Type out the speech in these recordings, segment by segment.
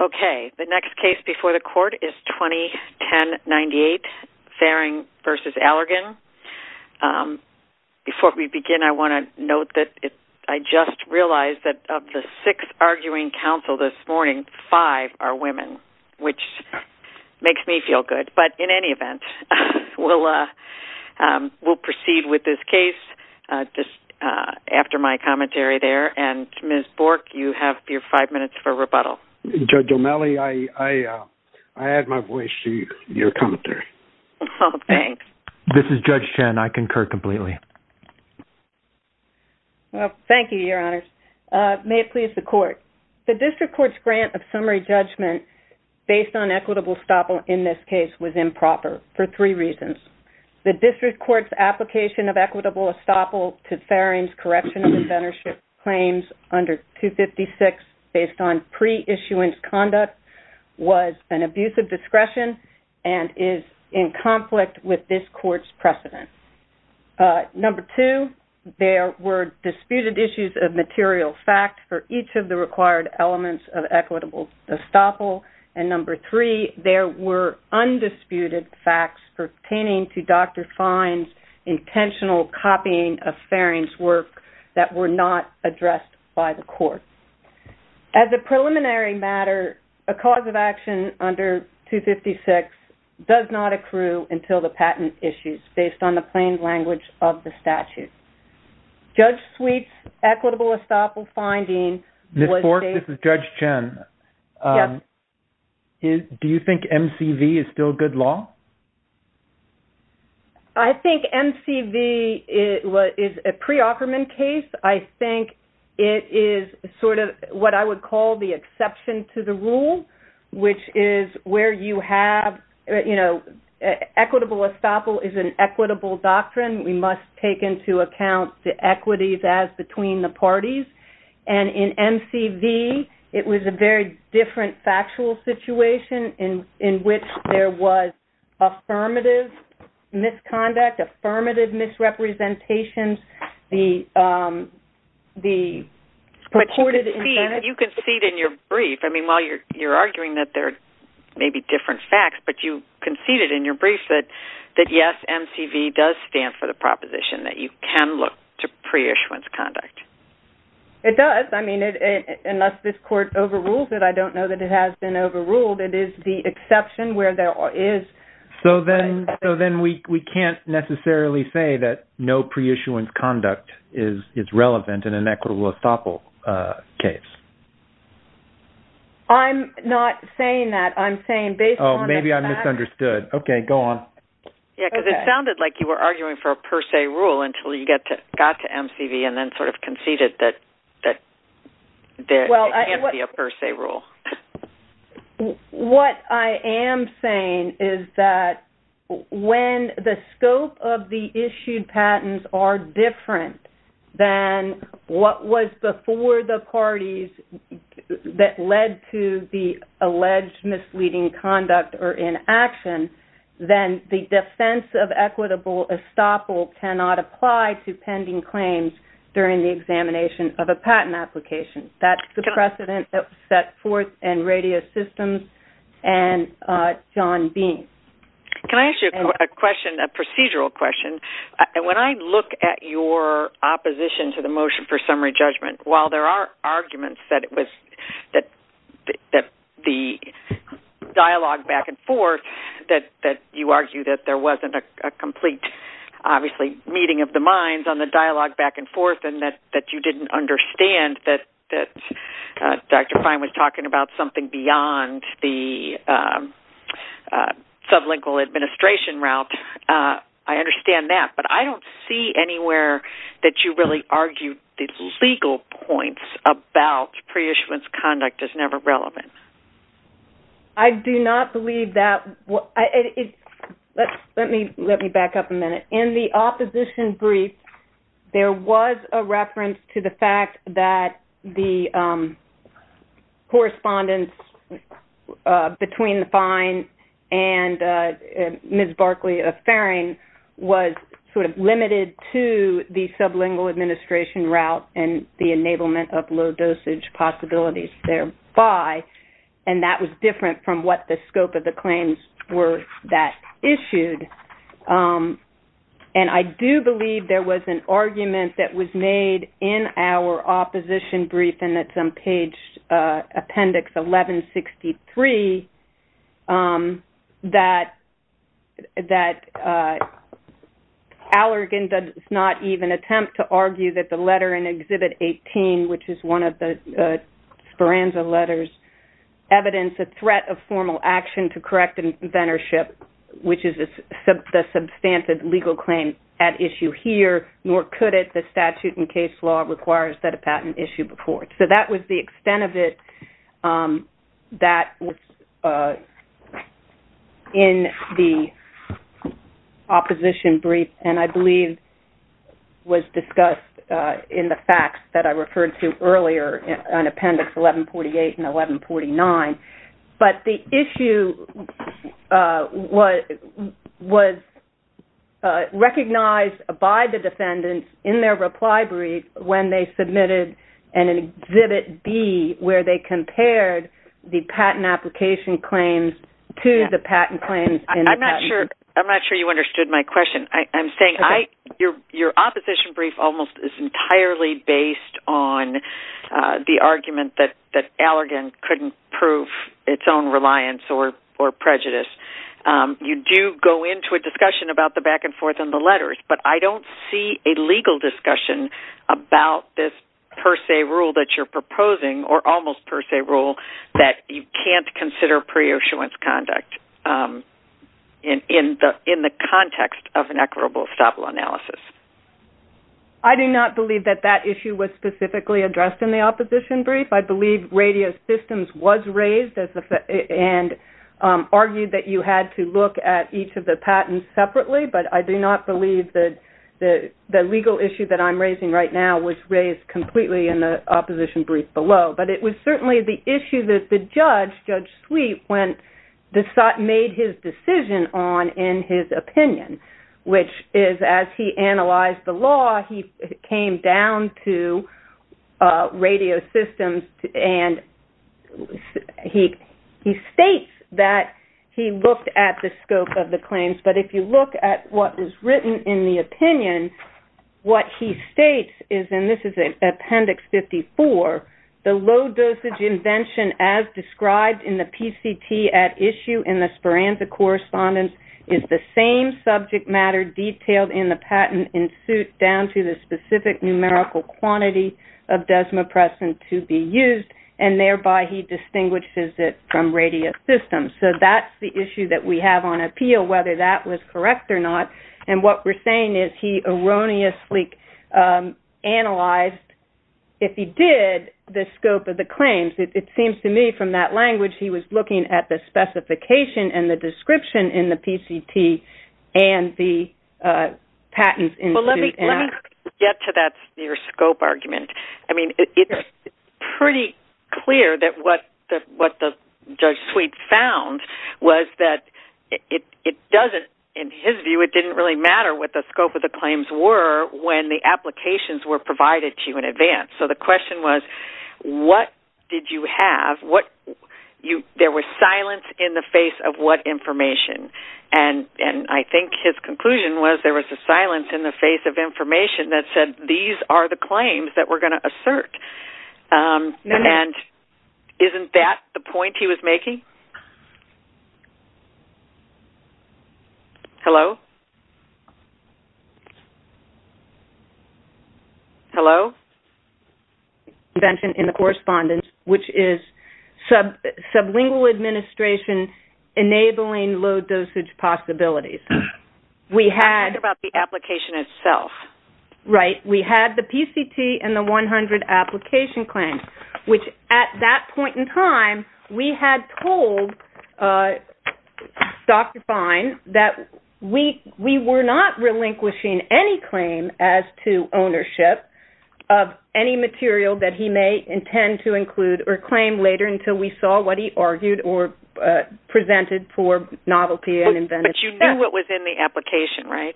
Okay, the next case before the court is 2010-98 Farring v. Allergan. Before we begin, I want to note that I just realized that of the six arguing counsel this morning, five are women, which makes me feel good. But in any event, we'll proceed with this case just after my commentary there. And Ms. O'Malley, I add my voice to your commentary. Oh, thanks. This is Judge Chen. I concur completely. Well, thank you, Your Honors. May it please the court. The district court's grant of summary judgment based on equitable estoppel in this case was improper for three reasons. The district court's application of equitable pre-issuance conduct was an abuse of discretion and is in conflict with this court's precedent. Number two, there were disputed issues of material fact for each of the required elements of equitable estoppel. And number three, there were undisputed facts pertaining to Dr. Fine's intentional copying of the statute. As a preliminary matter, a cause of action under 256 does not accrue until the patent issues based on the plain language of the statute. Judge Sweet's equitable estoppel finding was... Ms. Fork, this is Judge Chen. Yes. Do you think MCV is still good law? I think MCV is a pre-offerment case. I think it is sort of what I would call the exception to the rule, which is where you have, you know, equitable estoppel is an equitable doctrine. We must take into account the equities as between the parties. And in MCV, it was a very different factual situation in which there was affirmative misconduct, affirmative misrepresentations, the purported... But you conceded in your brief, I mean, while you're arguing that there may be different facts, but you conceded in your brief that yes, MCV does stand for the proposition that you can look to pre-issuance conduct. It does. I mean, unless this court overrules it, I don't know that it has been overruled. It is the exception where there is... So then we can't necessarily say that no pre-issuance conduct is relevant in an equitable estoppel case. I'm not saying that. I'm saying based on... Oh, maybe I misunderstood. Okay, go on. Yeah, because it sounded like you were arguing for a per se rule until you got to MCV and then sort of conceded that there can't be a per se rule. What I am saying is that when the scope of the issued patents are different than what was before the parties that led to the alleged misleading conduct or inaction, then the examination of a patent application, that's the precedent that was set forth in radio systems and John Bean. Can I ask you a question, a procedural question? When I look at your opposition to the motion for summary judgment, while there are arguments that it was that the dialogue back and forth, that you argue that there wasn't a complete, obviously, meeting of the minds on the issue, and that you didn't understand that Dr. Fine was talking about something beyond the sublingual administration route. I understand that, but I don't see anywhere that you really argued these legal points about pre-issuance conduct as never relevant. I do not believe that. Let me back up a minute. In the reference to the fact that the correspondence between the Fine and Ms. Barkley of Farring was sort of limited to the sublingual administration route and the enablement of low dosage possibilities thereby, and that was different from what the scope of the claims were that issued. I do believe there was an argument that was made in our opposition brief, and it's on page appendix 1163, that Allergan does not even attempt to argue that the letter in Exhibit 18, which is one of the Speranza letters, evidence a threat of formal action to correct inventorship, which is the substantive legal claim at issue here, nor could it, the statute and case law requires that a patent issue before it. So that was the extent of it that was in the opposition brief, and I believe was discussed in the facts that I referred to earlier in appendix 1148 and 1149, but the issue was recognized by the defendants in their reply brief when they submitted an Exhibit B where they compared the patent application claims to the patent claims. I'm not sure you understood my question. I'm saying your opposition brief almost is entirely based on the that Allergan couldn't prove its own reliance or prejudice. You do go into a discussion about the back-and-forth in the letters, but I don't see a legal discussion about this per se rule that you're proposing, or almost per se rule, that you can't consider pre-issuance conduct in the context of an equitable estoppel analysis. I do not believe that that issue was specifically addressed in the opposition brief. I believe radio systems was raised and argued that you had to look at each of the patents separately, but I do not believe that the legal issue that I'm raising right now was raised completely in the opposition brief below, but it was certainly the issue that the judge, Judge Sweet, made his decision on in his opinion, which is as he analyzed the law, he came down to radio systems and he states that he looked at the scope of the claims, but if you look at what was written in the opinion, what he states is, and this is an appendix 54, the low dosage invention as described in the PCT at issue in the Speranza correspondence is the same subject matter detailed in the patent in suit down to the specific numerical quantity of Desmopressin to be used and thereby he distinguishes it from radio systems. So that's the issue that we have on appeal, whether that was correct or not, and what we're saying is he erroneously analyzed, if he did, the scope of the claims. It seems to me from that language he was looking at the specification and the patents in suit and out. Well let me get to that near scope argument. I mean it's pretty clear that what the Judge Sweet found was that it doesn't, in his view, it didn't really matter what the scope of the claims were when the applications were provided to you in advance. So the question was what did you have, what you, there was silence in the face of what information, and I think his conclusion was there was a silence in the face of information that said these are the claims that we're going to assert. And isn't that the point he was making? Hello? Hello? In the correspondence, which is sublingual administration enabling low dosage possibilities, we had... About the application itself. Right, we had the PCT and the 100 application claims, which at that point in time we had told Dr. Fine that we were not relinquishing any claim as to ownership of any material that he may intend to include or claim later until we saw what he argued or presented for novelty and inventiveness. But you knew what was in the application, right?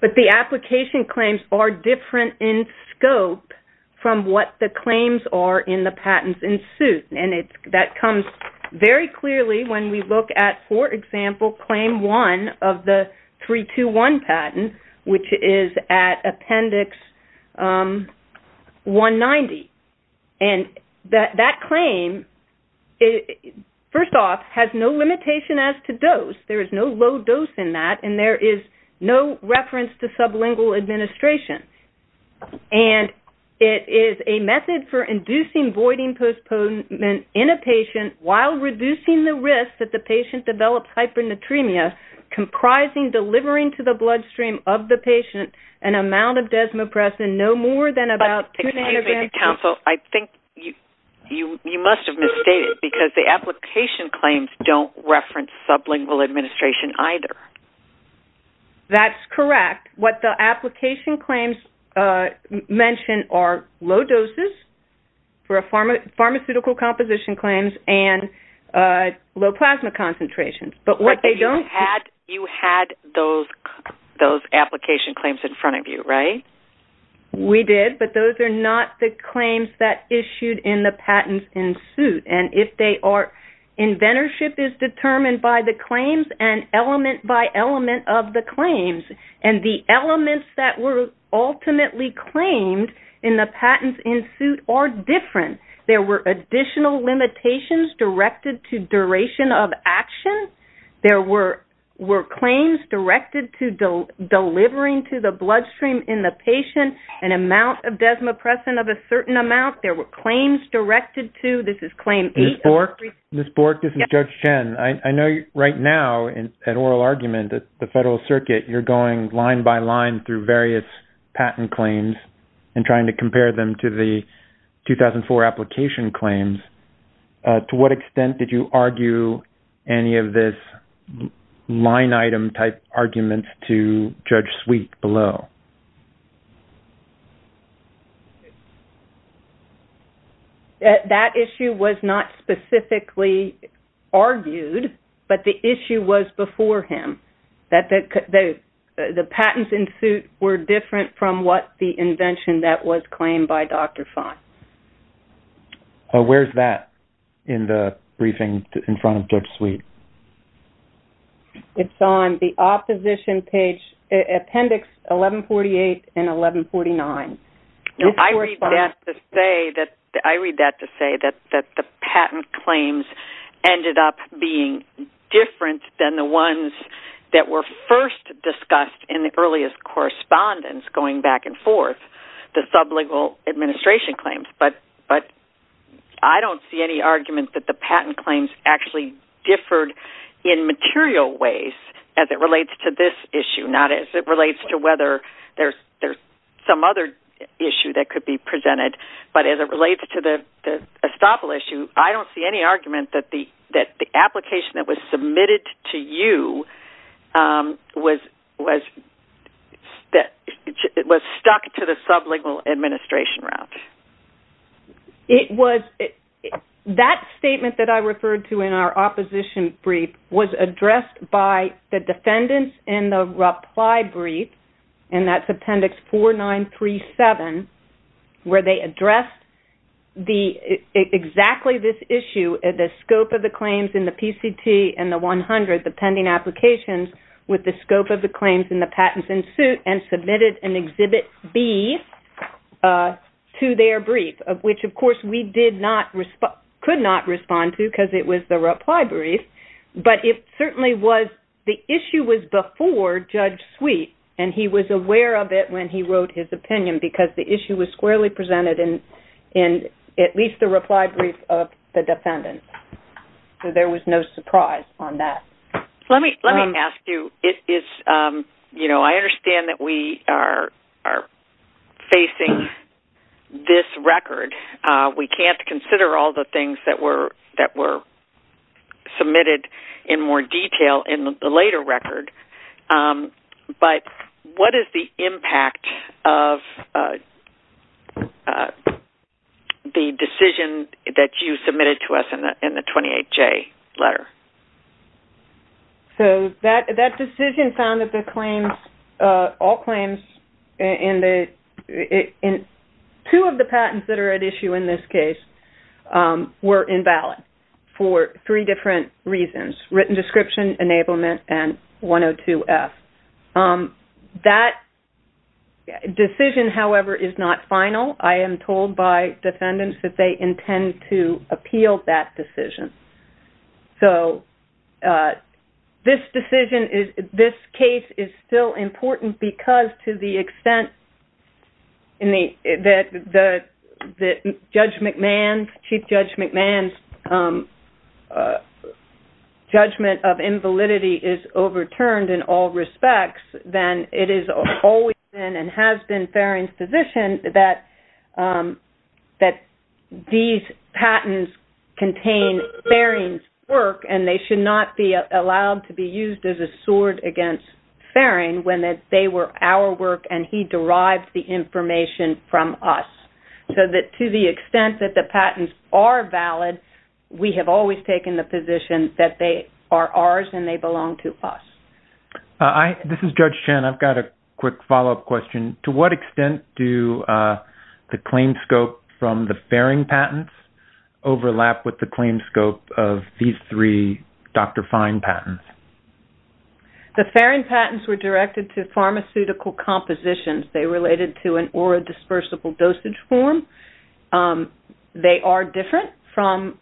But the application claims are different in scope from what the claims are in the patents in suit, and that comes very clearly when we look at, for example, claim one of the 321 patent, which is at appendix 190, and that claim, first off, has no limitation as to dose. There is no low dose in that, and there is no reference to sublingual administration. And it is a method for inducing voiding postponement in a patient while reducing the risk that the patient develops hypernatremia, comprising delivering to the bloodstream of the patient an amount of desmopressin no more than about... But excuse me, counsel, I think you must have misstated because the application claims don't reference sublingual administration either. That's correct. What the application claims mention are low doses for pharmaceutical composition claims and low plasma concentrations, but what they don't... But you had those application claims in front of you, right? We did, but those are not the claims that issued in the patents in suit, and if they are... Inventorship is determined by the claims and element by element of the claims, and the elements that were ultimately claimed in the patents in suit are different. There were additional limitations directed to duration of action. There were claims directed to delivering to the bloodstream in the patient an amount of desmopressin of a patient. There were claims directed to... Ms. Bork, this is Judge Chen. I know right now in an oral argument that the Federal Circuit, you're going line by line through various patent claims and trying to compare them to the 2004 application claims. To what extent did you argue any of this line item type arguments to Judge Sweet below? That issue was not specifically argued, but the issue was before him. That the patents in suit were different from what the invention that was claimed by Dr. Fung. Where's that in the briefing in front of Judge Sweet? It's on the I read that to say that the patent claims ended up being different than the ones that were first discussed in the earliest correspondence going back and forth. The sub-legal administration claims, but I don't see any argument that the patent claims actually differed in material ways as it relates to this issue. Not as it relates to whether there's some other issue that could be presented, but as it relates to the estoppel issue, I don't see any argument that the application that was submitted to you was stuck to the sub-legal administration route. That statement that I referred to in our opposition brief was addressed by the defendants in the reply brief, and that's where they addressed exactly this issue, the scope of the claims in the PCT and the 100, the pending applications with the scope of the claims in the patents in suit, and submitted an Exhibit B to their brief, which of course we could not respond to because it was the reply brief. But it certainly was, the issue was before Judge Sweet, and he was aware of it when he wrote his opinion because the case was actually presented in at least the reply brief of the defendants. So there was no surprise on that. Let me ask you, you know, I understand that we are facing this record. We can't consider all the things that were submitted in more detail in the later record, but what is the impact of the decision that you submitted to us in the 28J letter? So that decision found that the claims, all claims in two of the patents that are at issue in this case, were invalid for three different reasons, written description, enablement, and 102F. That decision, however, is not final. I am told by defendants that they intend to appeal that decision. So this decision is, this Judge McMahon, Chief Judge McMahon's judgment of invalidity is overturned in all respects. Then it is always been, and has been, Farring's position that these patents contain Farring's work, and they should not be allowed to be used as a sword against Farring when they were our work, and he derived the information from us. So that to the extent that the patents are valid, we have always taken the position that they are ours and they belong to us. This is Judge Chen. I've got a quick follow-up question. To what extent do the claim scope from the Farring patents overlap with the claim scope of these three Dr. Fine patents? The Farring patents were directed to pharmaceutical compositions. They related to an orodispersible dosage form. They are different from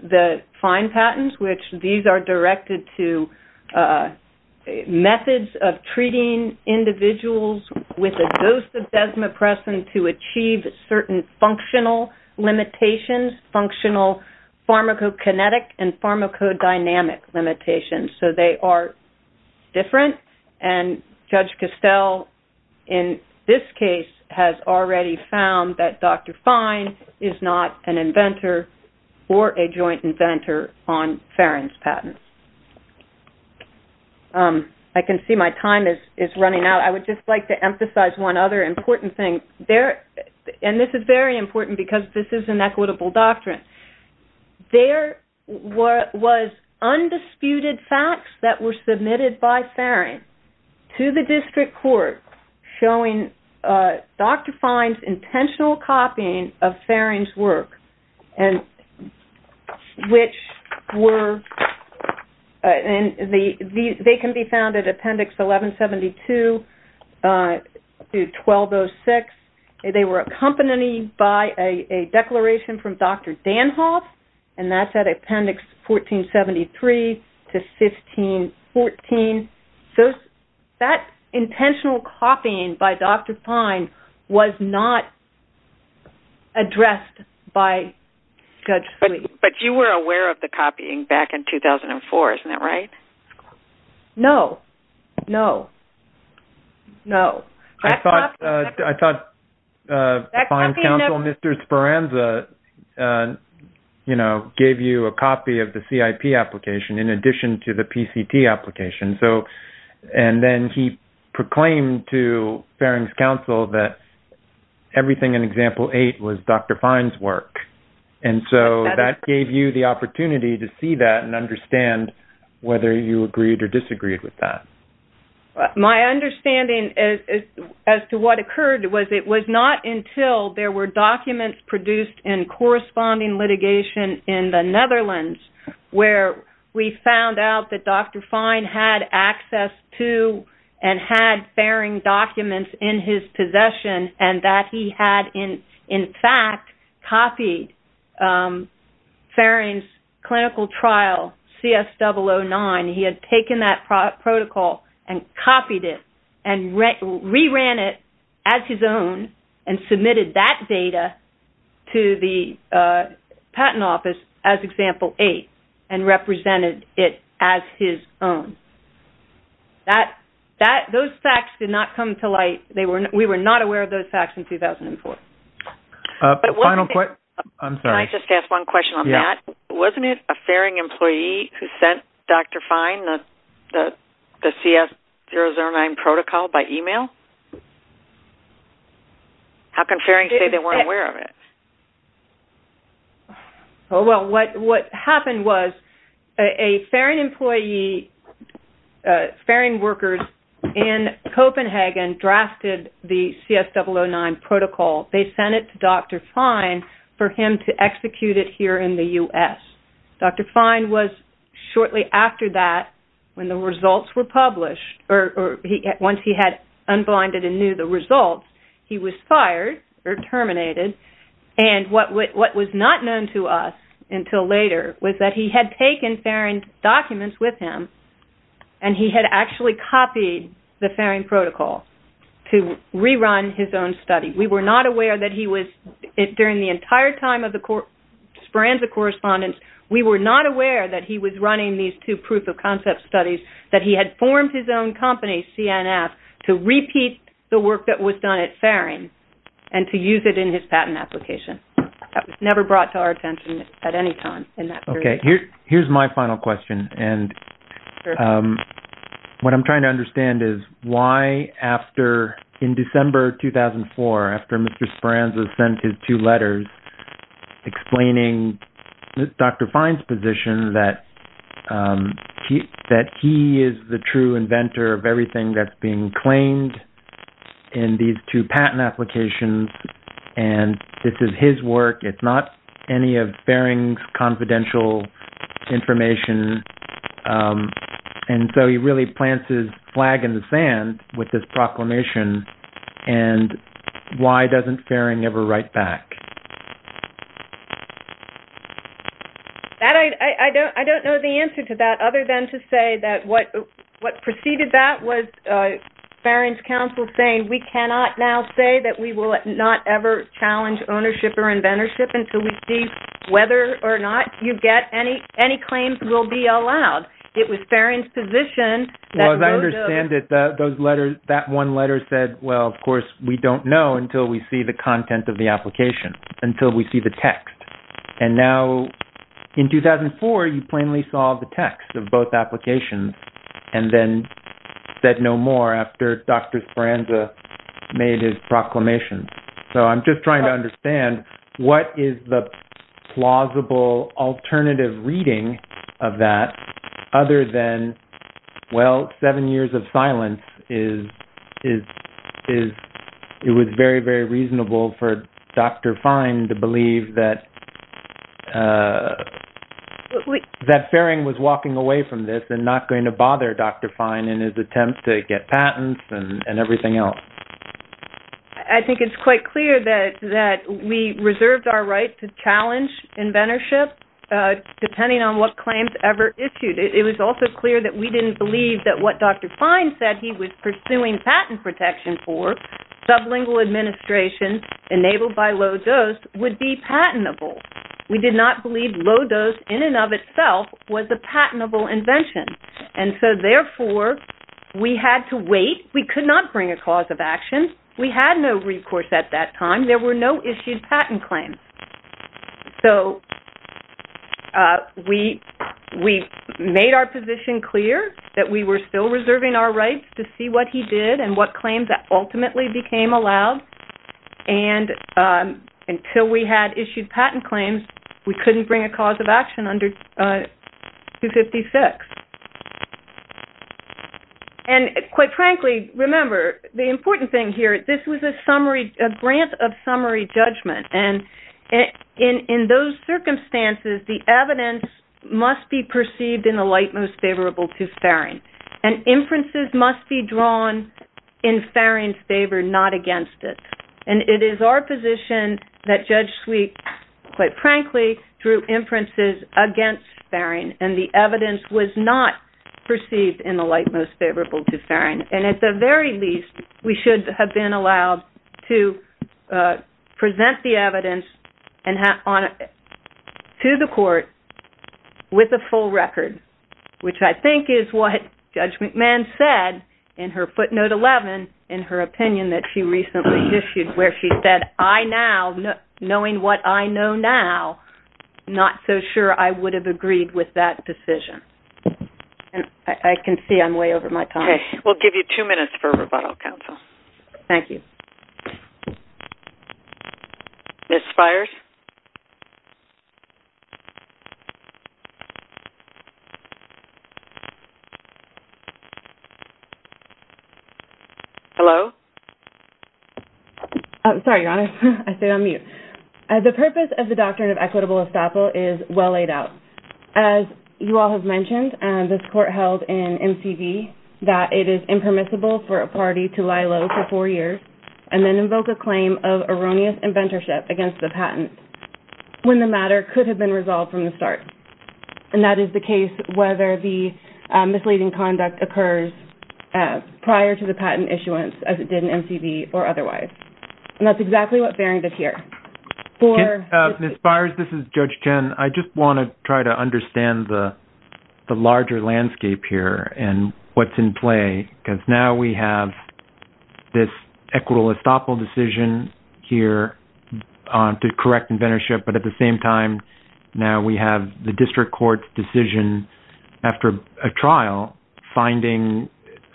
the Fine patents, which these are directed to methods of treating individuals with a dose of Desmopressin to achieve certain functional limitations, functional pharmacokinetic and pharmacodynamic limitations. So they are different, and Judge Costell, in this case, has already found that Dr. Fine is not an inventor or a joint inventor on Farring's patents. I can see my time is running out. I would just like to emphasize one other important thing, and this is very important because this is an equitable doctrine. There was undisputed facts that were submitted by Farring to the district court showing Dr. Fine's intentional copying of Farring's work, and which were, and they can be found at Appendix 1172 through 1206. They were accompanied by a declaration from Dr. Danhof, and that's at Appendix 1473 to 1514. So that intentional copying by Dr. Fine was not addressed by Judge Fleet. But you were aware of the copying back in 2004, isn't that right? No, no, no. I thought Farring's counsel, Mr. Speranza, you know, gave you a copy of the CIP application in addition to the PCT application. So, and then he proclaimed to Farring's counsel that everything in Example 8 was Dr. Fine's work. And so that gave you the opportunity to see that and understand whether you agreed or disagreed with that. My understanding as to what occurred was it was not until there were documents produced in corresponding litigation in the Netherlands, where we found out that Dr. Fine had access to and had Farring documents in his possession, and that he had, in fact, copied Farring's clinical trial, CS009. He had taken that protocol and copied it and re-ran it as his own and submitted that data to the Patent Office as Example 8 and represented it as his own. Those facts did not come to us. We were not aware of those facts in 2004. Can I just ask one question on that? Wasn't it a Farring employee who sent Dr. Fine the CS009 protocol by email? How can Farring say they weren't aware of it? Well, what happened was a Farring employee, Farring workers in Copenhagen drafted the CS009 protocol. They sent it to Dr. Fine for him to execute it here in the U.S. Dr. Fine was shortly after that, when the results were published, or once he had unblinded and knew the results, he was fired or terminated. What was not known to us until later was that he had taken Farring documents with him and he had actually copied the Farring protocol to re-run his own study. We were not aware that he was, during the entire time of the forensic correspondence, we were not aware that he was running these two proof-of-concept studies, that he had CNF, to repeat the work that was done at Farring and to use it in his patent application. That was never brought to our attention at any time in that period. Here's my final question. What I'm trying to understand is why, in December 2004, after Mr. Speranza sent his two letters explaining Dr. Fine's position that that he is the true inventor of everything that's being claimed in these two patent applications and this is his work, it's not any of Farring's confidential information, and so he really plants his flag in the sand with this proclamation, and why doesn't Farring ever write back? I don't know the answer to that other than to say that what preceded that was Farring's counsel saying, we cannot now say that we will not ever challenge ownership or inventorship until we see whether or not you get any claims will be allowed. It was Farring's position. Well, as I understand it, that one letter said, well, of course, we don't know until we see the content of the application, until we see the text, and now in 2004, you plainly saw the text of both applications and then said no more after Dr. Speranza made his proclamation. So I'm just trying to understand what is the plausible alternative reading of that other than, well, seven years of silence, it was very, very reasonable for Dr. Fine to believe that Farring was walking away from this and not going to bother Dr. Fine in his attempt to get patents and everything else. I think it's quite clear that we reserved our right to challenge inventorship depending on what claims ever issued. It was also clear that we didn't believe that what Dr. Fine said he was pursuing patent protection for, sublingual administration enabled by low dose would be patentable. We did not believe low dose in and of itself was a patentable invention. And so therefore, we had to wait. We could not bring a cause of action. We had no recourse at that time. There were no issued patent claims. So we made our position clear that we were still reserving our rights to see what he did and what claims that ultimately became allowed. And until we had issued patent claims, we couldn't bring a cause of action under 256. And quite frankly, remember, the important thing here, this was a grant of summary judgment. And in those circumstances, the evidence must be perceived in the light most favorable to Farring. And inferences must be drawn in Farring's favor, not against it. And it is our position that Judge Sweet, quite frankly, drew inferences against Farring. And the evidence was not perceived in the light most favorable to to present the evidence to the court with a full record, which I think is what Judge McMahon said in her footnote 11 in her opinion that she recently issued, where she said, I now, knowing what I know now, not so sure I would have agreed with that decision. And I can see I'm way over my time. Okay. We'll give you two minutes for rebuttal, counsel. Thank you. Ms. Spires? Hello? Sorry, Your Honor. I stayed on mute. The purpose of the doctrine of equitable estoppel is well laid out. As you all have mentioned, this court held in MCV that it is impermissible for a party to lie low for four years and then invoke a claim of erroneous inventorship against the patent when the matter could have been resolved from the start. And that is the case whether the misleading conduct occurs prior to the patent issuance as it did in MCV or otherwise. And that's exactly what Farring did here. Ms. Spires, this is Judge Chen. I just want to try to understand the larger landscape here and what's in play, because now we have this equitable estoppel decision here to correct inventorship. But at the same time, now we have the district court's decision after a trial finding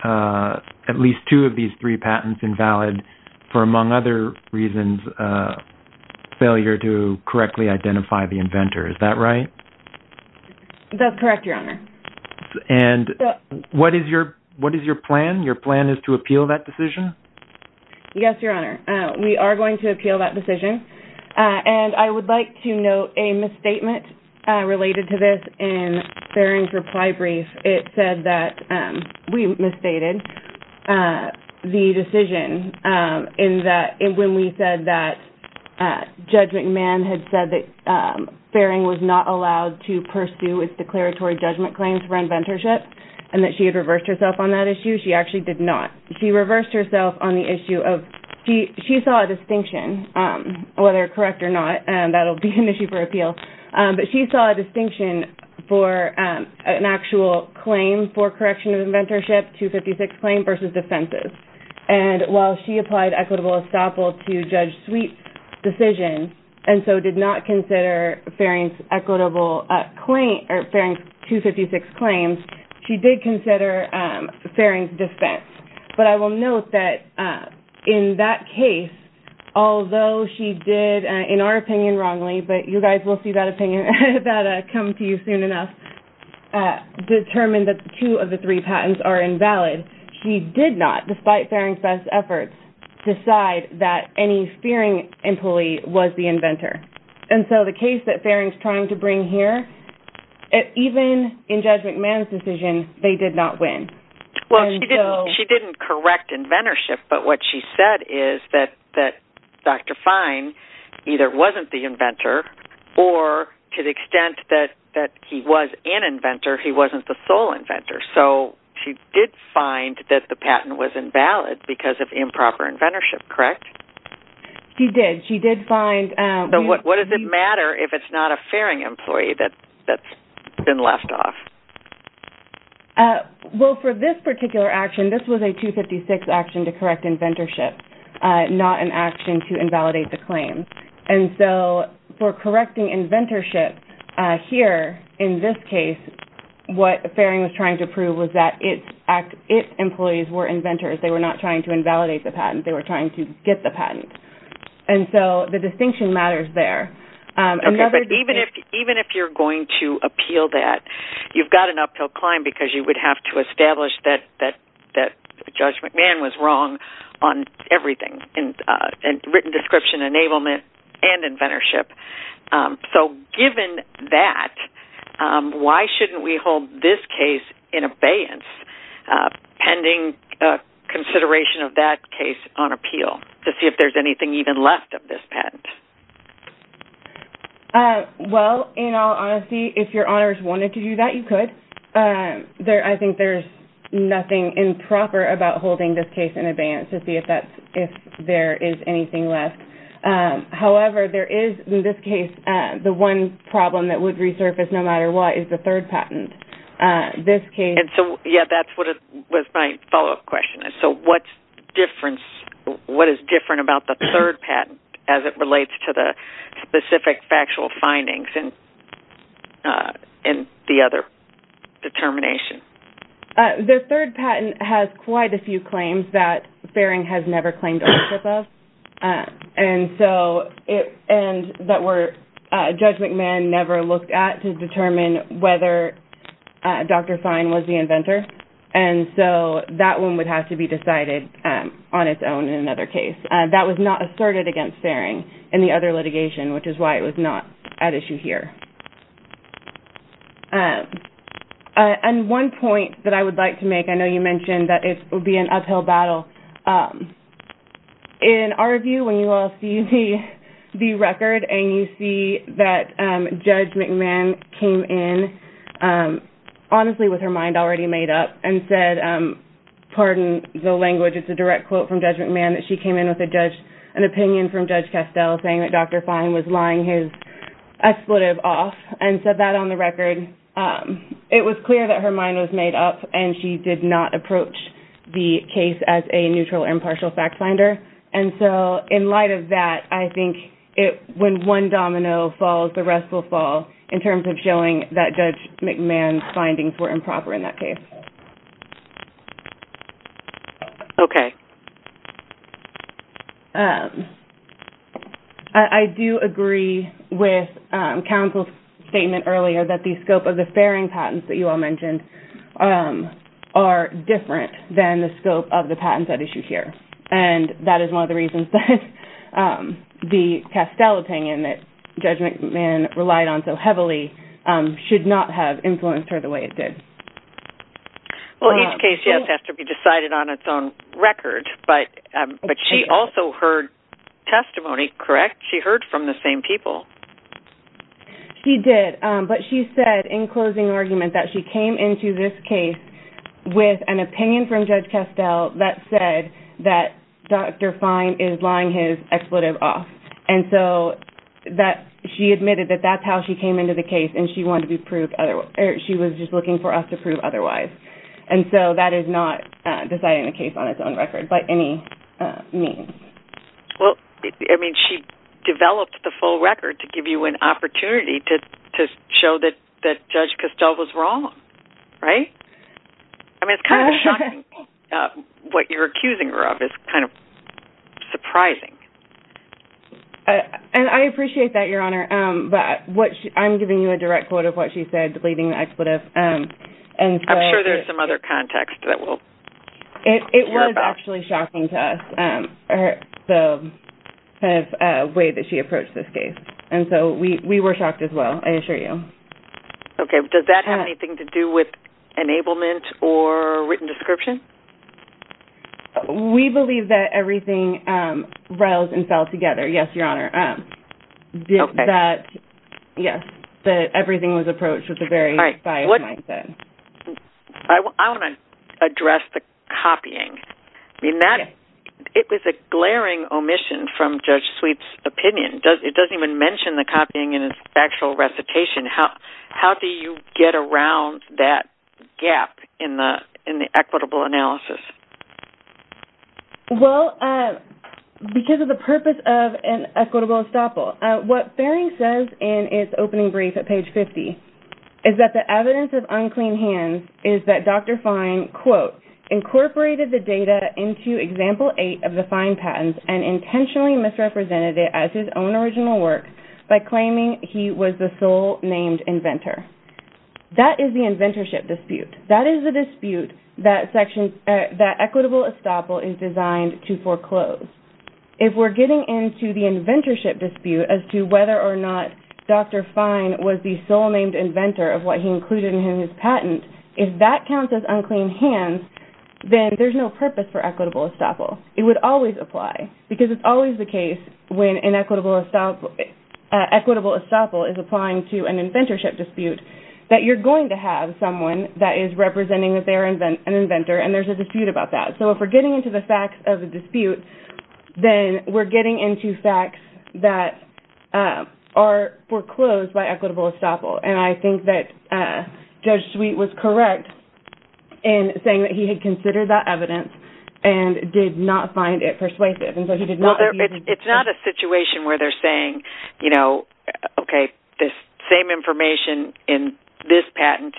at least two of these three patents invalid for, among other reasons, failure to correctly identify the inventor. Is that right? That's correct, Your Honor. And what is your plan? Your plan is to appeal that decision? Yes, Your Honor. We are going to appeal that decision. And I would like to note a misstatement related to this in Farring's reply brief. It said that we misstated the decision when we said that Judge McMahon had said that Farring was not allowed to pursue his declaratory judgment claims for inventorship and that she had reversed herself on that issue. She actually did not. She reversed herself on the issue of she saw a distinction, whether correct or not, and that will be an issue for appeal. But she saw a distinction for an actual claim for correction of inventorship, 256 claim versus defenses. And while she applied equitable estoppel to Judge McMahon's decision and so did not consider Farring's 256 claims, she did consider Farring's defense. But I will note that in that case, although she did, in our opinion, wrongly, but you guys will see that opinion come to you soon enough, determine that two of the three was the inventor. And so the case that Farring's trying to bring here, even in Judge McMahon's decision, they did not win. Well, she didn't correct inventorship, but what she said is that Dr. Fine either wasn't the inventor or to the extent that he was an inventor, he wasn't the sole inventor. So she did find that the patent was invalid because of improper inventorship, correct? She did. She did find... What does it matter if it's not a Farring employee that's been left off? Well, for this particular action, this was a 256 action to correct inventorship, not an action to invalidate the claim. And so for correcting inventorship here, in this case, what Farring was trying to prove was that its employees were inventors. They were not trying to invalidate the patent. They were trying to get the patent. And so the distinction matters there. Even if you're going to appeal that, you've got an uphill climb because you would have to establish that Judge McMahon was wrong on everything, written description, enablement, and inventorship. So given that, why shouldn't we hold this case in abeyance, pending consideration of that case on appeal to see if there's anything even left of this patent? Well, in all honesty, if your honors wanted to do that, you could. I think there's nothing improper about holding this case in abeyance to see if there is anything left. However, there is in this case, the one problem that would resurface no matter what is the third patent. That's my follow-up question. So what is different about the third patent as it relates to the specific factual findings and the other determination? The third patent has quite a few claims that Farring has never claimed ownership of and that Judge McMahon never looked at to determine whether Dr. Fine was the inventor. And so that one would have to be decided on its own in another case. That was not asserted against Farring in the other litigation, which is why it was not at issue here. And one point that I would like to make, I know you mentioned that it would be an uphill battle. In our view, when you all see the record and you see that Judge McMahon came in honestly with her mind already made up and said, pardon the language, it's a direct quote from Judge McMahon, that she came in with an opinion from Judge Castell saying that Dr. Fine was lying his expletive off and said that on the record. It was clear that her mind was made up and she did not approach the case as a neutral impartial fact finder. And so in light of that, I think when one domino falls, the rest will fall in terms of showing that Judge McMahon's findings were improper in that case. Okay. I do agree with counsel's statement earlier that the scope of the Farring patents that you all are different than the scope of the patents at issue here. And that is one of the reasons that the Castell opinion that Judge McMahon relied on so heavily should not have influenced her the way it did. Well, each case just has to be decided on its own record, but she also heard testimony, correct? She heard from the same people. She did, but she said in closing argument that she came into this case with an opinion from Judge Castell that said that Dr. Fine is lying his expletive off. And so that she admitted that that's how she came into the case and she wanted to prove otherwise. She was just looking for us to prove otherwise. And so that is not deciding the case on its own record by any means. Well, I mean, she developed the full record to give you an opportunity to show that Judge Castell was wrong, right? I mean, it's kind of shocking what you're accusing her of. It's kind of surprising. And I appreciate that, Your Honor, but I'm giving you a direct quote of what she said, deleting the expletive. I'm sure there's some other context that we'll hear about. It was actually shocking to us, the way that she approached this case. We were shocked as well, I assure you. Okay. Does that have anything to do with enablement or written description? We believe that everything rails and fell together. Yes, Your Honor. That everything was approached with a very biased mindset. I want to address the copying. It was a glaring omission from Judge Sweep's opinion. It doesn't even mention the copying in its actual recitation. How do you get around that gap in the equitable analysis? Well, because of the purpose of an equitable estoppel. What Farring says in its opening brief at page 50 is that the evidence of unclean hands is that Dr. Fine, quote, incorporated the data into example eight of the fine patents and intentionally misrepresented it as his own original work by claiming he was the sole named inventor. That is the inventorship dispute. That is the dispute that equitable estoppel is designed to foreclose. If we're getting into the inventorship dispute as to whether or not Dr. Fine was the sole named inventor of what he included in his patent, if that counts as unclean hands, then there's no purpose for equitable estoppel. Equitable estoppel is applying to an inventorship dispute that you're going to have someone that is representing that they are an inventor and there's a dispute about that. So if we're getting into the facts of the dispute, then we're getting into facts that are foreclosed by equitable estoppel. And I think that Judge Sweep was correct in saying that he had considered that evidence and did not find it persuasive. It's not a situation where they're saying, you know, okay, this same information in this patent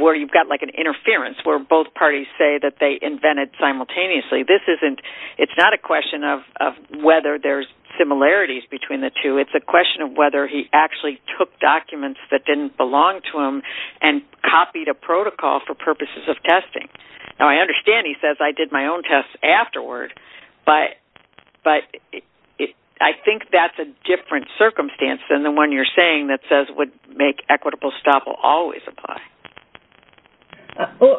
where you've got like an interference where both parties say that they invented simultaneously. This isn't, it's not a question of whether there's similarities between the two. It's a question of whether he actually took documents that didn't belong to him and copied a protocol for purposes of testing. Now I understand he says I did my own tests afterward, but I think that's a different circumstance than the one you're saying that says would make equitable estoppel always apply.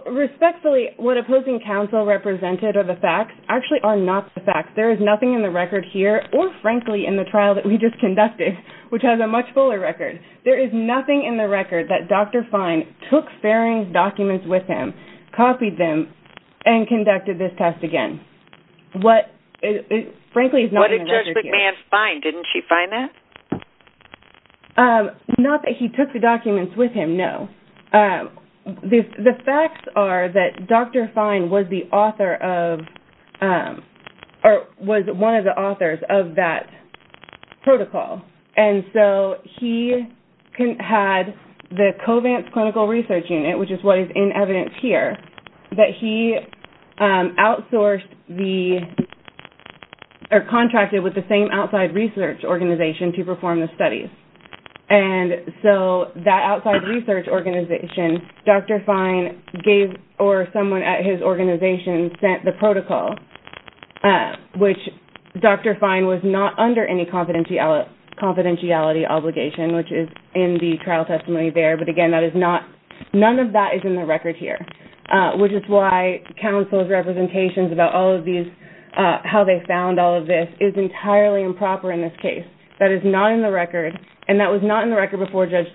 Respectfully, what opposing counsel represented are the facts actually are not the facts. There is nothing in the record here or frankly in the trial that we just conducted, which has a much fuller record. There is nothing in the record that Dr. Fine took Faring's documents with him, copied them, and conducted this test again. What, frankly, is not in the record here. What did Judge McMahon find? Didn't she find that? Not that he took the documents with him, no. The facts are that Dr. Fine was the author of, or was one of the authors of that protocol. And so he had the Covance Clinical Research Unit, which is what is in evidence here, that he outsourced the, or contracted with the same outside research organization to perform the studies. And so that outside research organization, Dr. Fine gave, or someone at his organization sent the protocol, which Dr. Fine was not under any confidentiality obligation, which is in the trial testimony there. But again, none of that is in the record here, which is why counsel's representations about all of these, how they found all of this, is entirely improper in this case. That is not in the record, and that was not in the record before Judge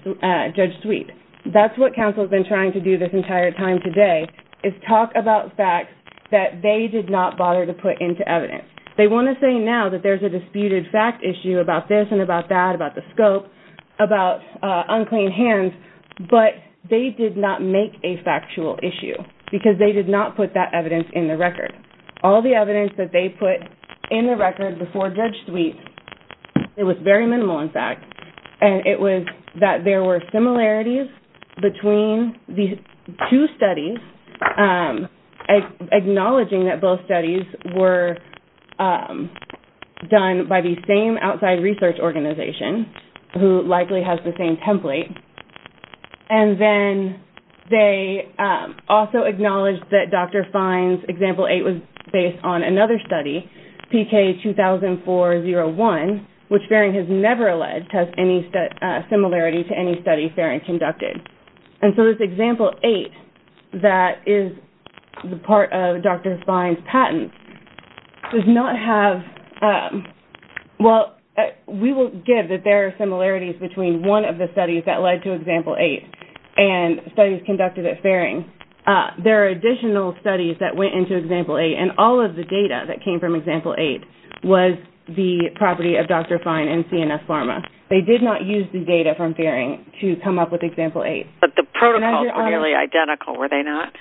Sweet. That's what counsel's been trying to do this entire time today, is talk about facts that they did not bother to put into evidence. They want to say now that there's a disputed fact issue about this and about that, about the scope, about unclean hands, but they did not make a factual issue because they did not put that evidence in the record. All the evidence that they put in the record before Judge Sweet, it was very minimal in fact, and it was that there were similarities between the two studies, acknowledging that both studies were done by the same outside research organization who likely has the same template, and then they also acknowledged that Dr. Fine's example 8 was based on another study, PK 2004-01, which Faring has never alleged has any similarity to any study Faring conducted. And so this example 8 that is the part of Dr. Fine's patent does not have, well, we will give that there are similarities between one of the studies that led to example 8 and studies conducted at Faring. There are additional studies that went into example 8, and all of the data that came from example 8 was the property of Dr. Fine and CNS Pharma. They did not use the data from Faring to come up with example 8. But the protocols were nearly identical, were they not?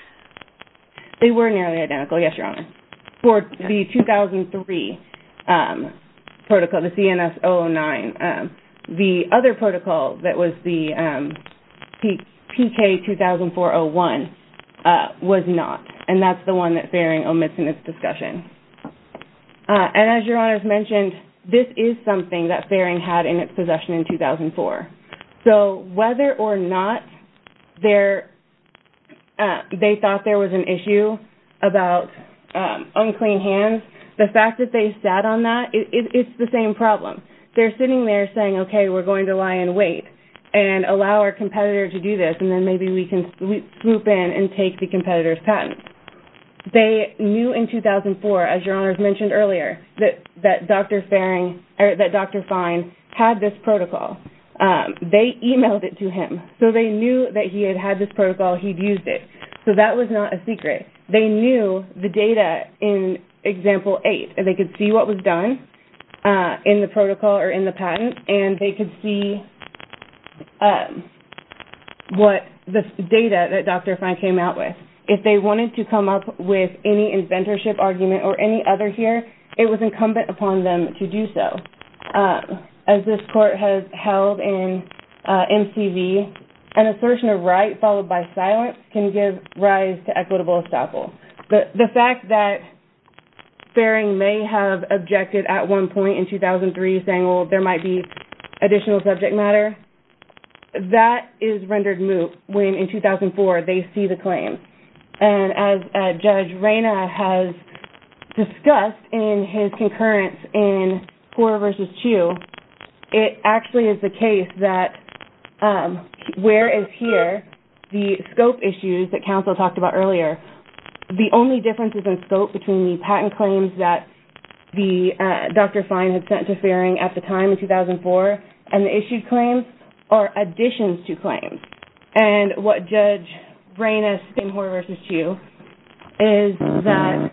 They were nearly identical, yes, Your Honor. For the 2003 protocol, the CNS-009, the other protocol that was the PK 2004-01 was not, and that's the one that Faring omits in its discussion. And as Your Honor has mentioned, this is something that Faring had in its possession in 2004. So whether or not they thought there was an issue about unclean hands, the fact that they sat on that, it's the same problem. They're sitting there saying, okay, we're going to lie in wait and allow our competitor to do this, and then maybe we can swoop in and take the competitor's patent. They knew in 2004, as Your Honor has mentioned earlier, that Dr. Fine had this protocol. They emailed it to him. So they knew that he had had this protocol, he'd used it. So that was not a secret. They knew the data in example 8, and they could see what was done in the protocol or in the patent, and they could see what the data that Dr. Fine came out with. If they wanted to come up with any inventorship argument or any other here, it was incumbent upon them to do so. As this Court has held in MCV, an assertion of right followed by silence can give rise to equitable estoppel. The fact that Faring may have objected at one point in 2003 saying, well, there might be additional subject matter, that is rendered moot when in 2004 they see the claim. As Judge Reyna has discussed in his concurrence in 4 v. 2, it actually is the case that where is here, the scope issues that counsel talked about earlier, the only differences in scope between the patent claims that Dr. Fine had sent to Faring at the time in 2004 and the issued claims are additions to claims. And what Judge Reyna's in 4 v. 2 is that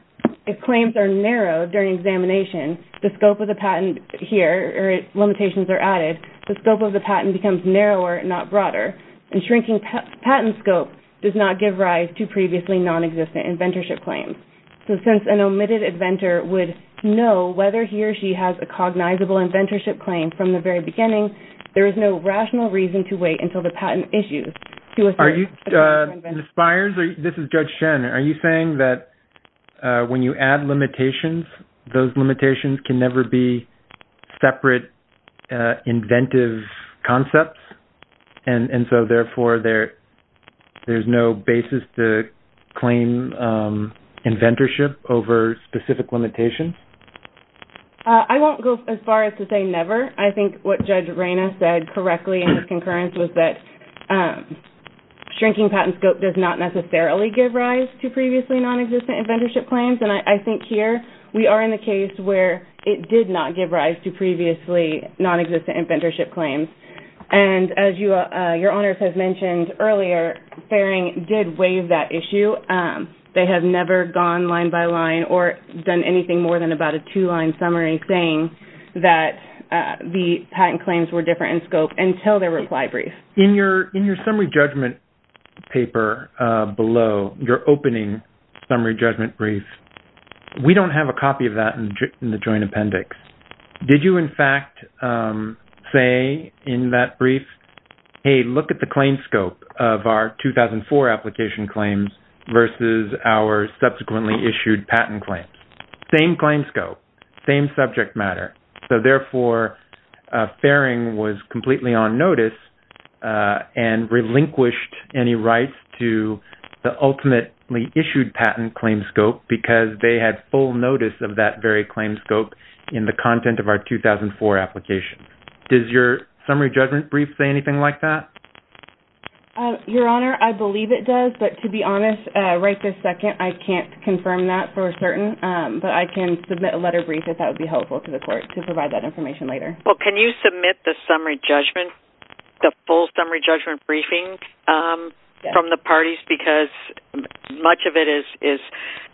if claims are narrowed during examination, the scope of the patent here or limitations are added, the scope of the patent becomes narrower, not broader. And shrinking patent scope does not give rise to previously nonexistent inventorship claims. So since an inventorship claim from the very beginning, there is no rational reason to wait until the patent issues. Are you, Ms. Byers, this is Judge Shen, are you saying that when you add limitations, those limitations can never be separate inventive concepts? And so therefore there's no basis to as far as to say never. I think what Judge Reyna said correctly in her concurrence was that shrinking patent scope does not necessarily give rise to previously nonexistent inventorship claims. And I think here we are in the case where it did not give rise to previously nonexistent inventorship claims. And as your Honors has mentioned earlier, Faring did waive that issue. They have never gone line by line or done anything more than about a two-line summary saying that the patent claims were different in scope until their reply brief. In your summary judgment paper below, your opening summary judgment brief, we don't have a copy of that in the Joint Appendix. Did you in fact say in that brief, hey, look at the claim scope of our 2004 application claims versus our subsequently issued patent claims. Same claim scope, same subject matter. So therefore, Faring was completely on notice and relinquished any rights to the ultimately issued patent claim scope because they had full notice of that very claim scope in the content of our 2004 application. Does your summary judgment brief say anything like that? Your Honor, I believe it does. But to be honest, right this second, I can't confirm that for certain, but I can submit a letter brief if that would be helpful to the court to provide that information later. Well, can you submit the summary judgment, the full summary judgment briefing from the parties because much of it is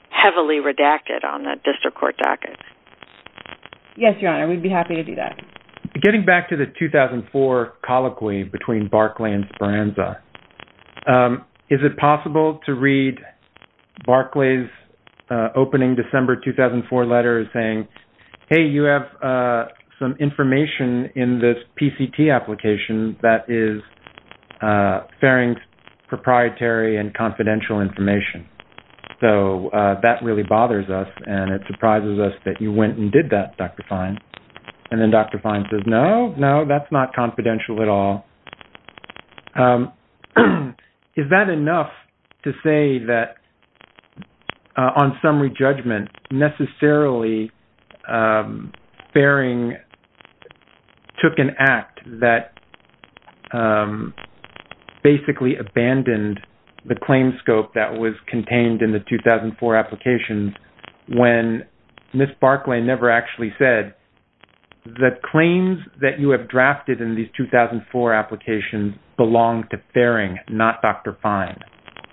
heavily redacted on that district court docket? Yes, your Honor. We'd be happy to do that. Getting back to the 2004 colloquy between Barclay and Speranza, is it possible to read Barclay's opening December 2004 letters saying, hey, you have some information in this PCT application that is Faring's proprietary and confidential information. So that really bothers us and it surprises us that you went and did that, Dr. Fine. And then Dr. Fine says, no, no, that's not confidential at all. Is that enough to say that on summary judgment necessarily Faring took an act that basically abandoned the claim scope that was contained in the 2004 applications when Ms. Barclay never actually said the claims that you have drafted in these 2004 applications belong to Faring, not Dr. Fine.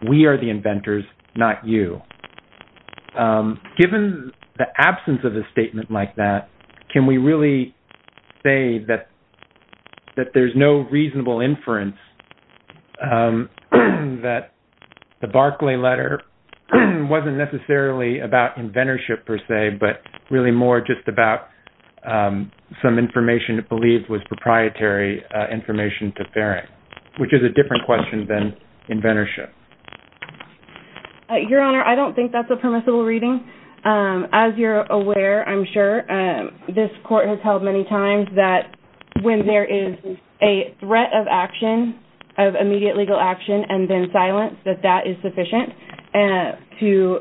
We are the inventors, not you. Given the absence of a statement like that, can we really say that there's no reasonable inference that the Barclay letter wasn't necessarily about inventorship per se, but really more just about some information it believed was proprietary information to Faring, which is a different question than inventorship. Your Honor, I don't think that's a permissible reading. As you're aware, I'm sure, this court has held many times that when there is a threat of action, of immediate legal action and then silence, that that is sufficient to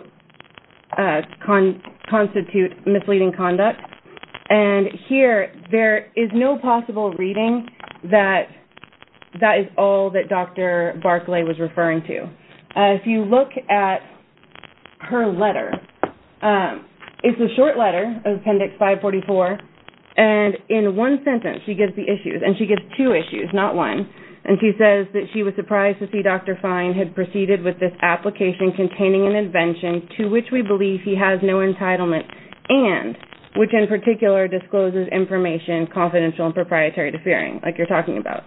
constitute misleading conduct. And here, there is no possible reading that that is all that Dr. Barclay was referring to. If you look at her letter, it's a short letter, Appendix 544, and in one sentence, she gives the issues. And she gives two issues, not one. And she says that she was surprised to see Dr. Fine had proceeded with this application containing an invention to which we believe he has no entitlement and which in particular discloses information confidential and proprietary to Faring, like you're talking about.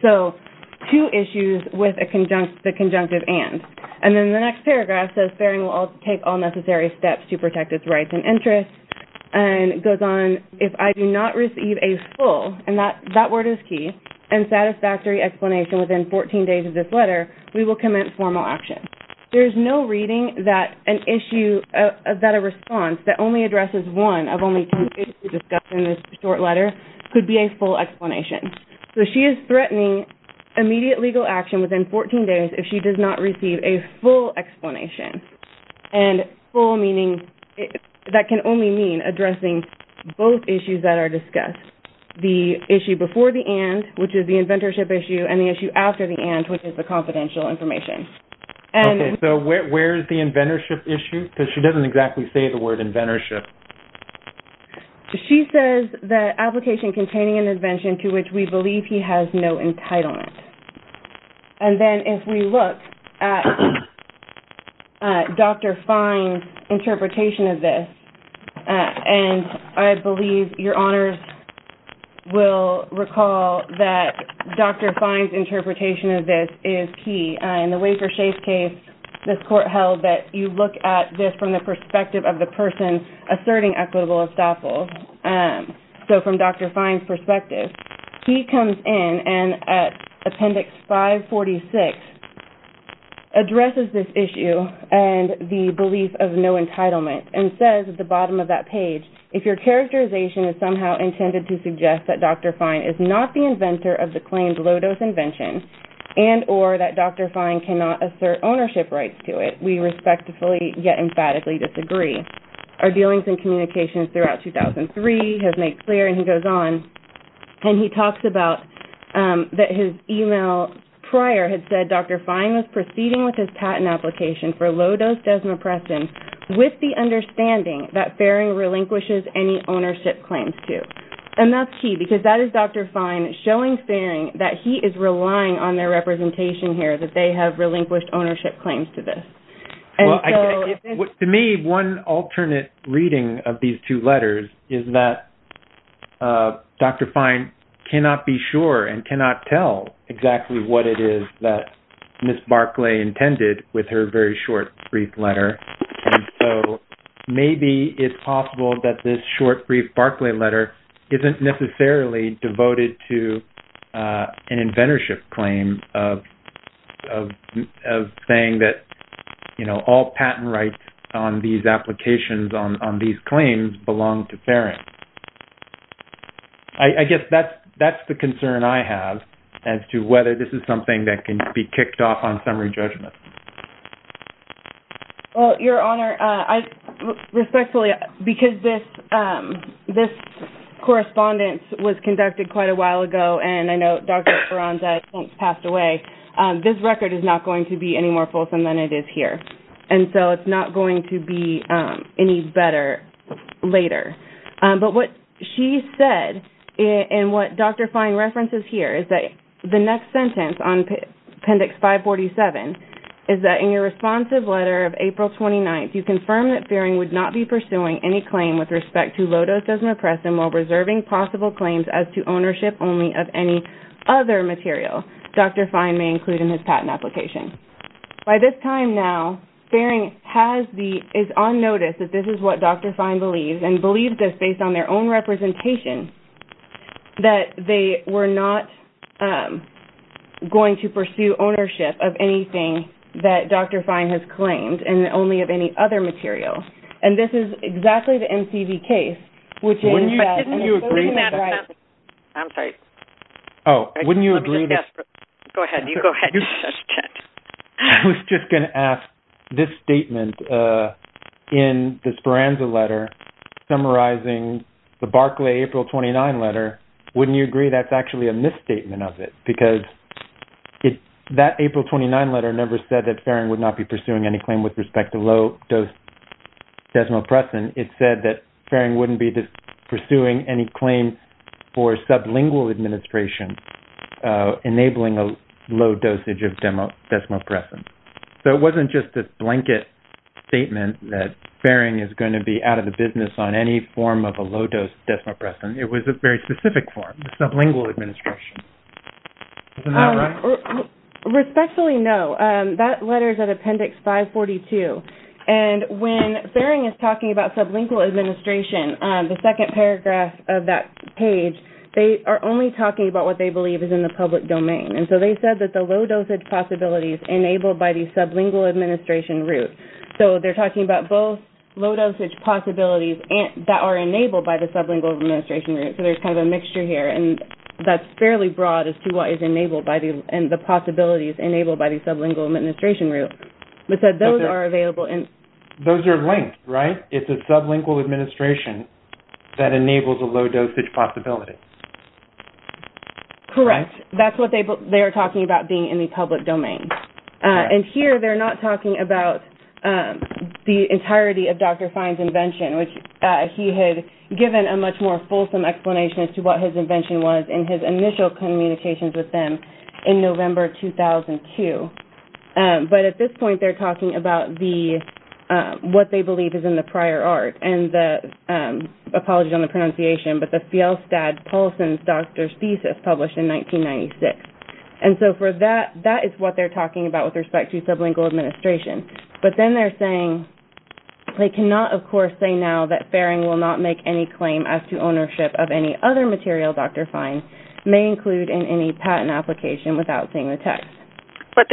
So, two issues with the conjunctive and. And then the next paragraph says Faring will take all necessary steps to protect its rights and interests. And it goes on, if I do not receive a full, and that word is key, and satisfactory explanation within 14 days of this letter, we will commence formal action. There is no reading that an issue, that a response that only addresses one of only two issues discussed in this short letter could be a full explanation. So, she is threatening immediate legal action within 14 days if she does not receive a full explanation. And full meaning, that can only mean addressing both issues that are discussed. The issue before the and, which is the inventorship issue, and the issue after the and, which is the confidential information. Okay. So, where is the inventorship issue? Because she doesn't exactly say the word inventorship. She says that application containing an invention to which we believe he has no entitlement. And then if we look at Dr. Fine's interpretation of this, and I believe your honors will recall that Dr. Fine's interpretation of this is key. In the Wafer-Shafe case, this court held that you look at this from the perspective of the person asserting equitable estoppel. So, from Dr. Fine's end, and at Appendix 546, addresses this issue and the belief of no entitlement and says at the bottom of that page, if your characterization is somehow intended to suggest that Dr. Fine is not the inventor of the claimed low-dose invention and or that Dr. Fine cannot assert ownership rights to it, we respectfully yet emphatically disagree. Our dealings and communications throughout 2003 has made clear, and he goes on, and he talks about that his email prior had said Dr. Fine was proceeding with his patent application for low-dose desmopressin with the understanding that Faring relinquishes any ownership claims to. And that's key, because that is Dr. Fine showing Faring that he is relying on their representation here, that they have relinquished ownership claims to this. Well, to me, one alternate reading of these two letters is that Dr. Fine cannot be sure and cannot tell exactly what it is that Ms. Barclay intended with her very short, brief letter. And so, maybe it's possible that this short, brief Barclay letter isn't necessarily devoted to an inventorship claim of saying that all patent rights on these claims belong to Faring. I guess that's the concern I have as to whether this is something that can be kicked off on summary judgment. Well, your honor, I respectfully, because this correspondence was conducted quite a while ago, and I know Dr. Ferranza has since passed away, this record is not going to be any more fulsome than it is here. And so, it's not going to be any better later. But what she said, and what Dr. Fine references here, is that the next sentence on Appendix 547 is that in your responsive letter of April 29th, you confirm that Faring would not be pursuing any claim with respect to low-dose dosimopressin while reserving possible claims as to ownership only of any other material Dr. Fine may include in his patent application. By this time now, Faring is on notice that this is what Dr. Fine believes, and believes this based on their own representation, that they were not going to pursue ownership of anything that Dr. Fine has claimed, and only of any other material. And this is exactly the MCV case, which is that... But wouldn't you agree... I'm sorry. Oh, wouldn't you agree... Go ahead. You go ahead. I was just going to ask, this statement in the Speranza letter, summarizing the Barclay April 29 letter, wouldn't you agree that's actually a misstatement of it? Because that April 29 letter never said that Faring would not be pursuing any claim with respect to low-dose dosimopressin. It said that Faring wouldn't be pursuing any claim for sublingual administration, enabling a low dosage of desmopressin. So it wasn't just this blanket statement that Faring is going to be out of the business on any form of a low-dose desmopressin. It was a very specific form, sublingual administration. Isn't that right? Respectfully, no. That letter is at Appendix 542. And when Faring is talking about sublingual administration, the second paragraph of that is in the public domain. And so they said that the low dosage possibilities enabled by the sublingual administration route. So they're talking about both low dosage possibilities that are enabled by the sublingual administration route. So there's kind of a mixture here. And that's fairly broad as to what is enabled by the possibilities enabled by the sublingual administration route. But said those are available in... Those are linked, right? It's a sublingual administration that enables a low dosage possibility. Correct. That's what they are talking about being in the public domain. And here they're not talking about the entirety of Dr. Fine's invention, which he had given a much more fulsome explanation as to what his invention was in his initial communications with them in November 2002. But at this point, they're talking about what they believe is in the prior art and the... Apologies on the pronunciation, but the Fjellstad-Polson's doctor's thesis published in 1996. And so for that, that is what they're talking about with respect to sublingual administration. But then they're saying they cannot, of course, say now that Faring will not make any claim as to ownership of any other material Dr. Fine may include in any patent application without seeing the text.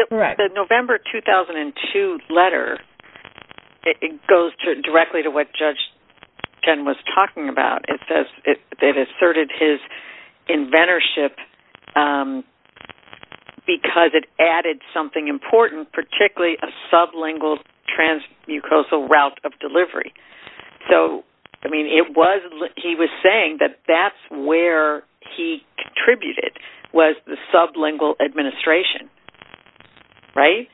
Correct. The November 2002 letter, it goes directly to what Judge Ken was talking about. It says it asserted his inventorship because it added something important, particularly a sublingual transmucosal route of delivery. So, I mean, it was... He was saying that that's where he contributed was the sublingual administration, right?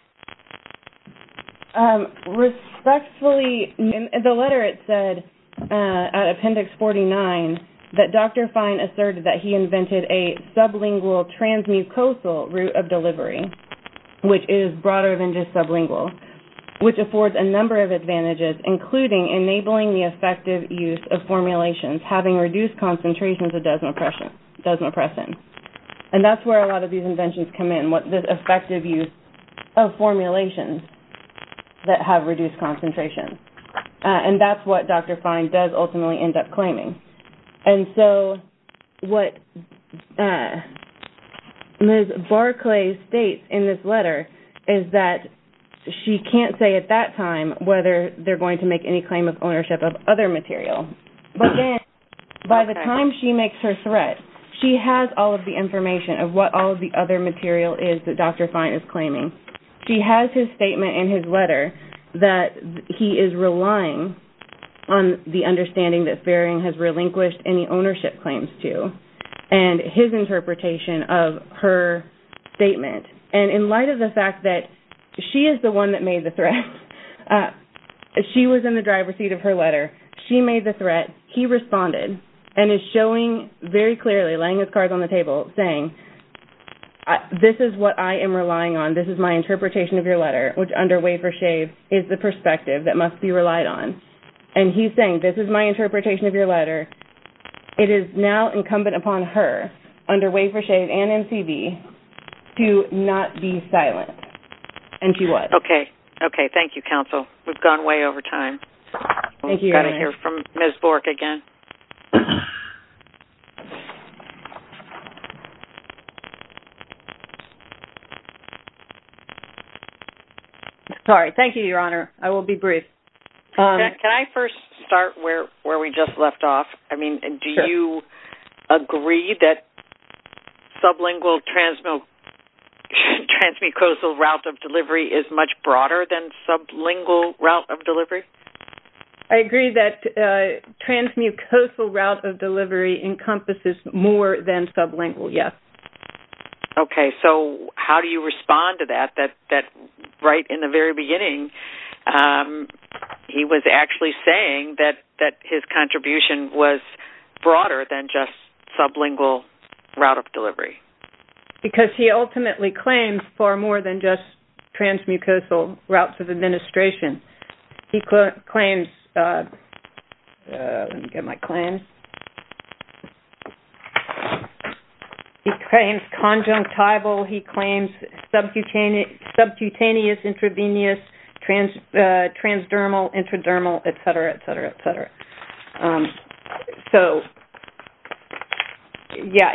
Respectfully, in the letter, it said, at appendix 49, that Dr. Fine asserted that he invented a sublingual transmucosal route of delivery, which is broader than just sublingual, which affords a number of advantages, including enabling the effective use of formulations, having reduced concentrations of desmopressin. And that's where a lot of these inventions come in, the effective use of formulations that have reduced concentrations. And that's what Dr. Fine does ultimately end up claiming. And so what Ms. Barclay states in this letter is that she can't say at that time whether they're going to make any claim of ownership of other material. But then, by the time she makes her threat, she has all of the information of what all of the other material is that Dr. Fine is claiming. She has his statement in his letter that he is relying on the understanding that Faring has relinquished any ownership claims to, and his interpretation of her statement. And in light of the fact that she is the one that made the threat, she was in the driver's seat of her letter. She made the threat. He responded and is showing very clearly, laying his cards on the table, saying, this is what I am relying on. This is my interpretation of your letter, which under wafer-shave is the perspective that must be relied on. And he's saying, this is my interpretation of your letter. It is now incumbent upon her, under wafer-shave and MCV, to not be silent. And he was. Okay. Okay. Thank you, Counsel. We've gone way over time. Thank you, Your Honor. Got to hear from Ms. Bork again. Sorry. Thank you, Your Honor. I will be brief. Can I first start where we just left off? I mean, do you agree that sublingual transmucosal route of delivery is much broader than sublingual route of delivery? I agree that transmucosal route of delivery encompasses more than sublingual, yes. Okay. So, how do you respond to that, that right in the very beginning, he was actually saying that his contribution was broader than just sublingual route of delivery? Because he ultimately claims far more than just transmucosal routes of administration. He claims, let me get my claims. He claims conjunctival, he claims subcutaneous intravenous, transdermal, intradermal, etc., etc., etc. So, yeah,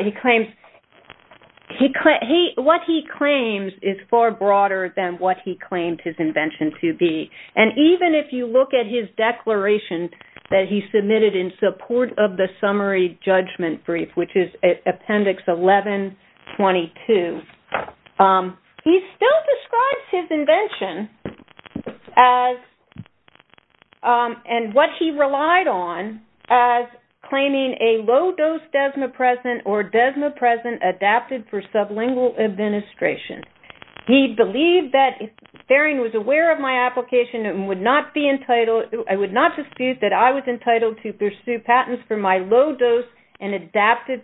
what he claims is far broader than what he claimed his invention to be. And even if you look at his declaration that he submitted in support of the summary judgment brief, which is Appendix 1122, he still describes his invention and what he relied on as claiming a low-dose desmopresent or desmopresent adapted for sublingual administration. He believed that Therrien was aware of my application and would not dispute that I was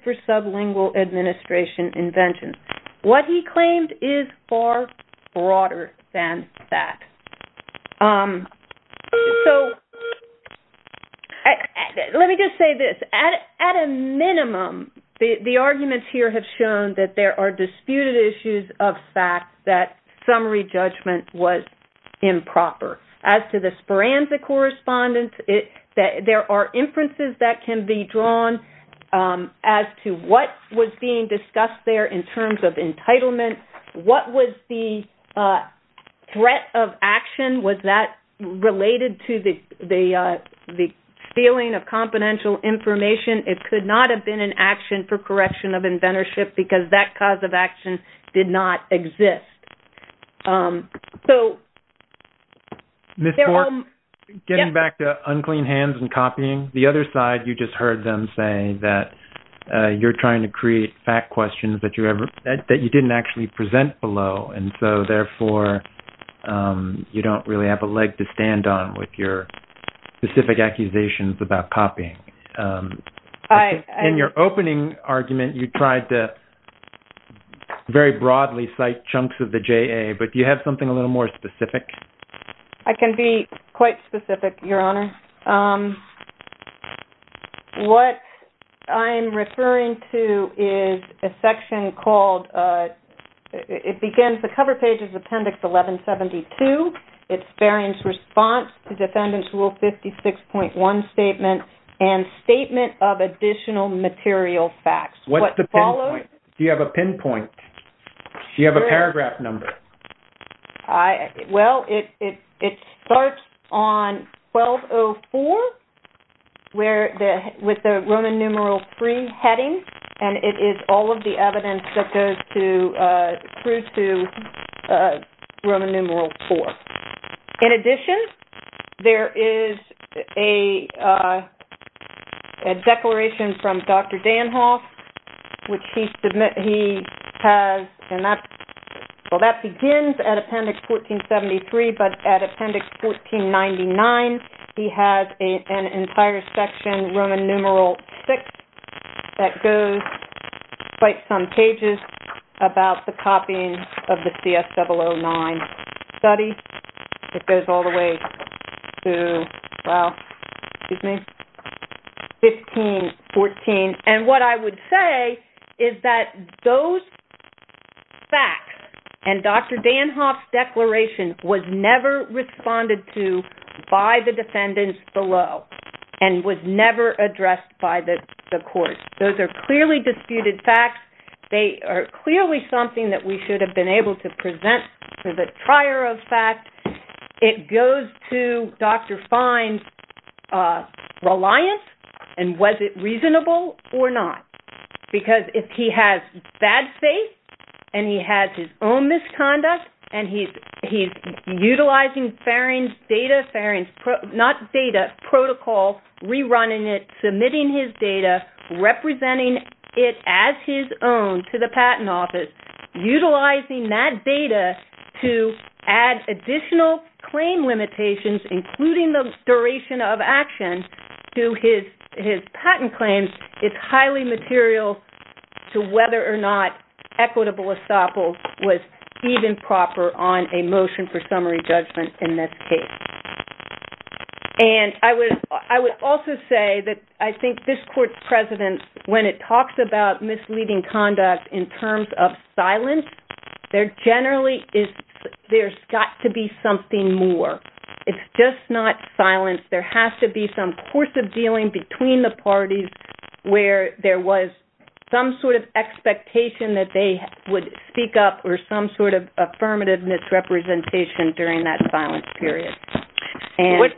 for sublingual administration inventions. What he claimed is far broader than that. So, let me just say this. At a minimum, the arguments here have shown that there are disputed issues of fact that summary judgment was improper. As to the forensic correspondence, there are inferences that can be drawn as to what was being discussed there in terms of entitlement. What was the threat of action? Was that related to the stealing of confidential information? It could not have been an action for correction of inventorship because that cause of hands and copying. The other side, you just heard them say that you're trying to create fact questions that you didn't actually present below. And so, therefore, you don't really have a leg to stand on with your specific accusations about copying. In your opening argument, you tried to very broadly cite chunks of the JA, but do you have something a little more specific? I can be quite specific, Your Honor. What I'm referring to is a section called... It begins, the cover page is Appendix 1172. It's Barrien's response to Defendant's Rule 56.1 statement and statement of additional material facts. What's the pinpoint? Do you have a pinpoint? Do you have a paragraph number? I... Well, it starts on 1204 with the Roman numeral 3 heading, and it is all of the evidence that goes through to Roman numeral 4. In addition, there is a declaration from Dr. Danhoff, which he has... Well, that begins at Appendix 1473, but at Appendix 1499, he has an entire section, Roman numeral 6, that goes quite some pages about the copying of the CS009 study. It goes all the way to, well, excuse me, 1514. And what I would say is that those facts and Dr. Danhoff's declaration was never responded to by the defendants below and was never addressed by the courts. Those are clearly disputed facts. They are clearly something that we should have been able to present for the trier of fact. It goes to Dr. Fine's reliance, and was it reasonable or not? Because if he has bad faith, and he has his own misconduct, and he's utilizing data, not data, protocol, rerunning it, submitting his data, representing it as his own to the Patent Office, utilizing that data to add additional claim limitations, including the duration of action to his patent claims, it's highly material to whether or not equitable estoppel was even proper on a motion for summary judgment in this case. And I would also say that I think this court's precedence, when it talks about misleading conduct in terms of silence, there generally is, there's got to be something more. It's just not silence. There has to be some course of dealing between the parties where there was some sort of expectation that they would speak up or some sort of affirmative misrepresentation during that silence period. Before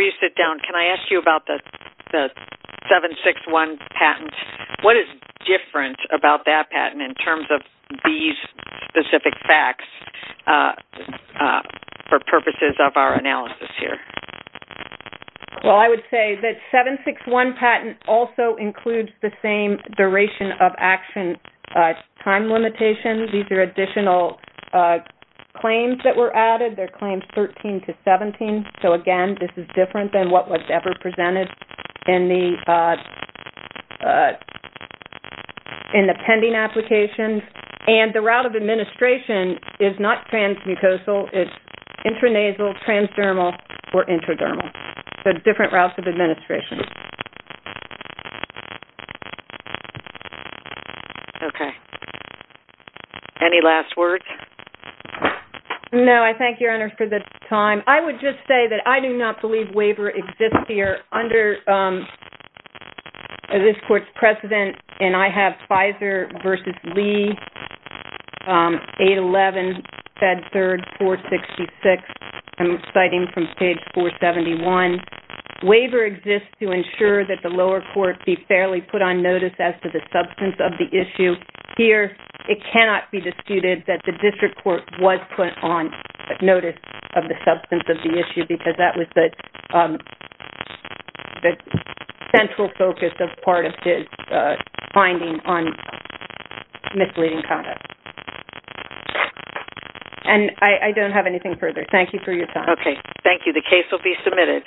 you sit down, can I ask you about the 761 patent? What is different about that patent in terms of these specific facts for purposes of our analysis here? Well, I would say that 761 patent also includes the same duration of action time limitations. These are additional claims that were added. They're claims 13 to 17. So again, this is different than what was ever presented in the pending applications. And the route of administration is not transmucosal, it's intranasal, transdermal, or intradermal. So different routes of administration. Okay. Any last words? No, I thank your Honor for the time. I would just say that I do not believe waiver exists here under this court's precedent. And I have Fizer v. Lee, 811, Fed 3rd, 466. I'm sure that the lower court be fairly put on notice as to the substance of the issue. Here, it cannot be disputed that the district court was put on notice of the substance of the issue because that was the central focus of part of his finding on misleading conduct. And I don't have anything further. Thank you for your time. Okay. Thank you. The case will be submitted.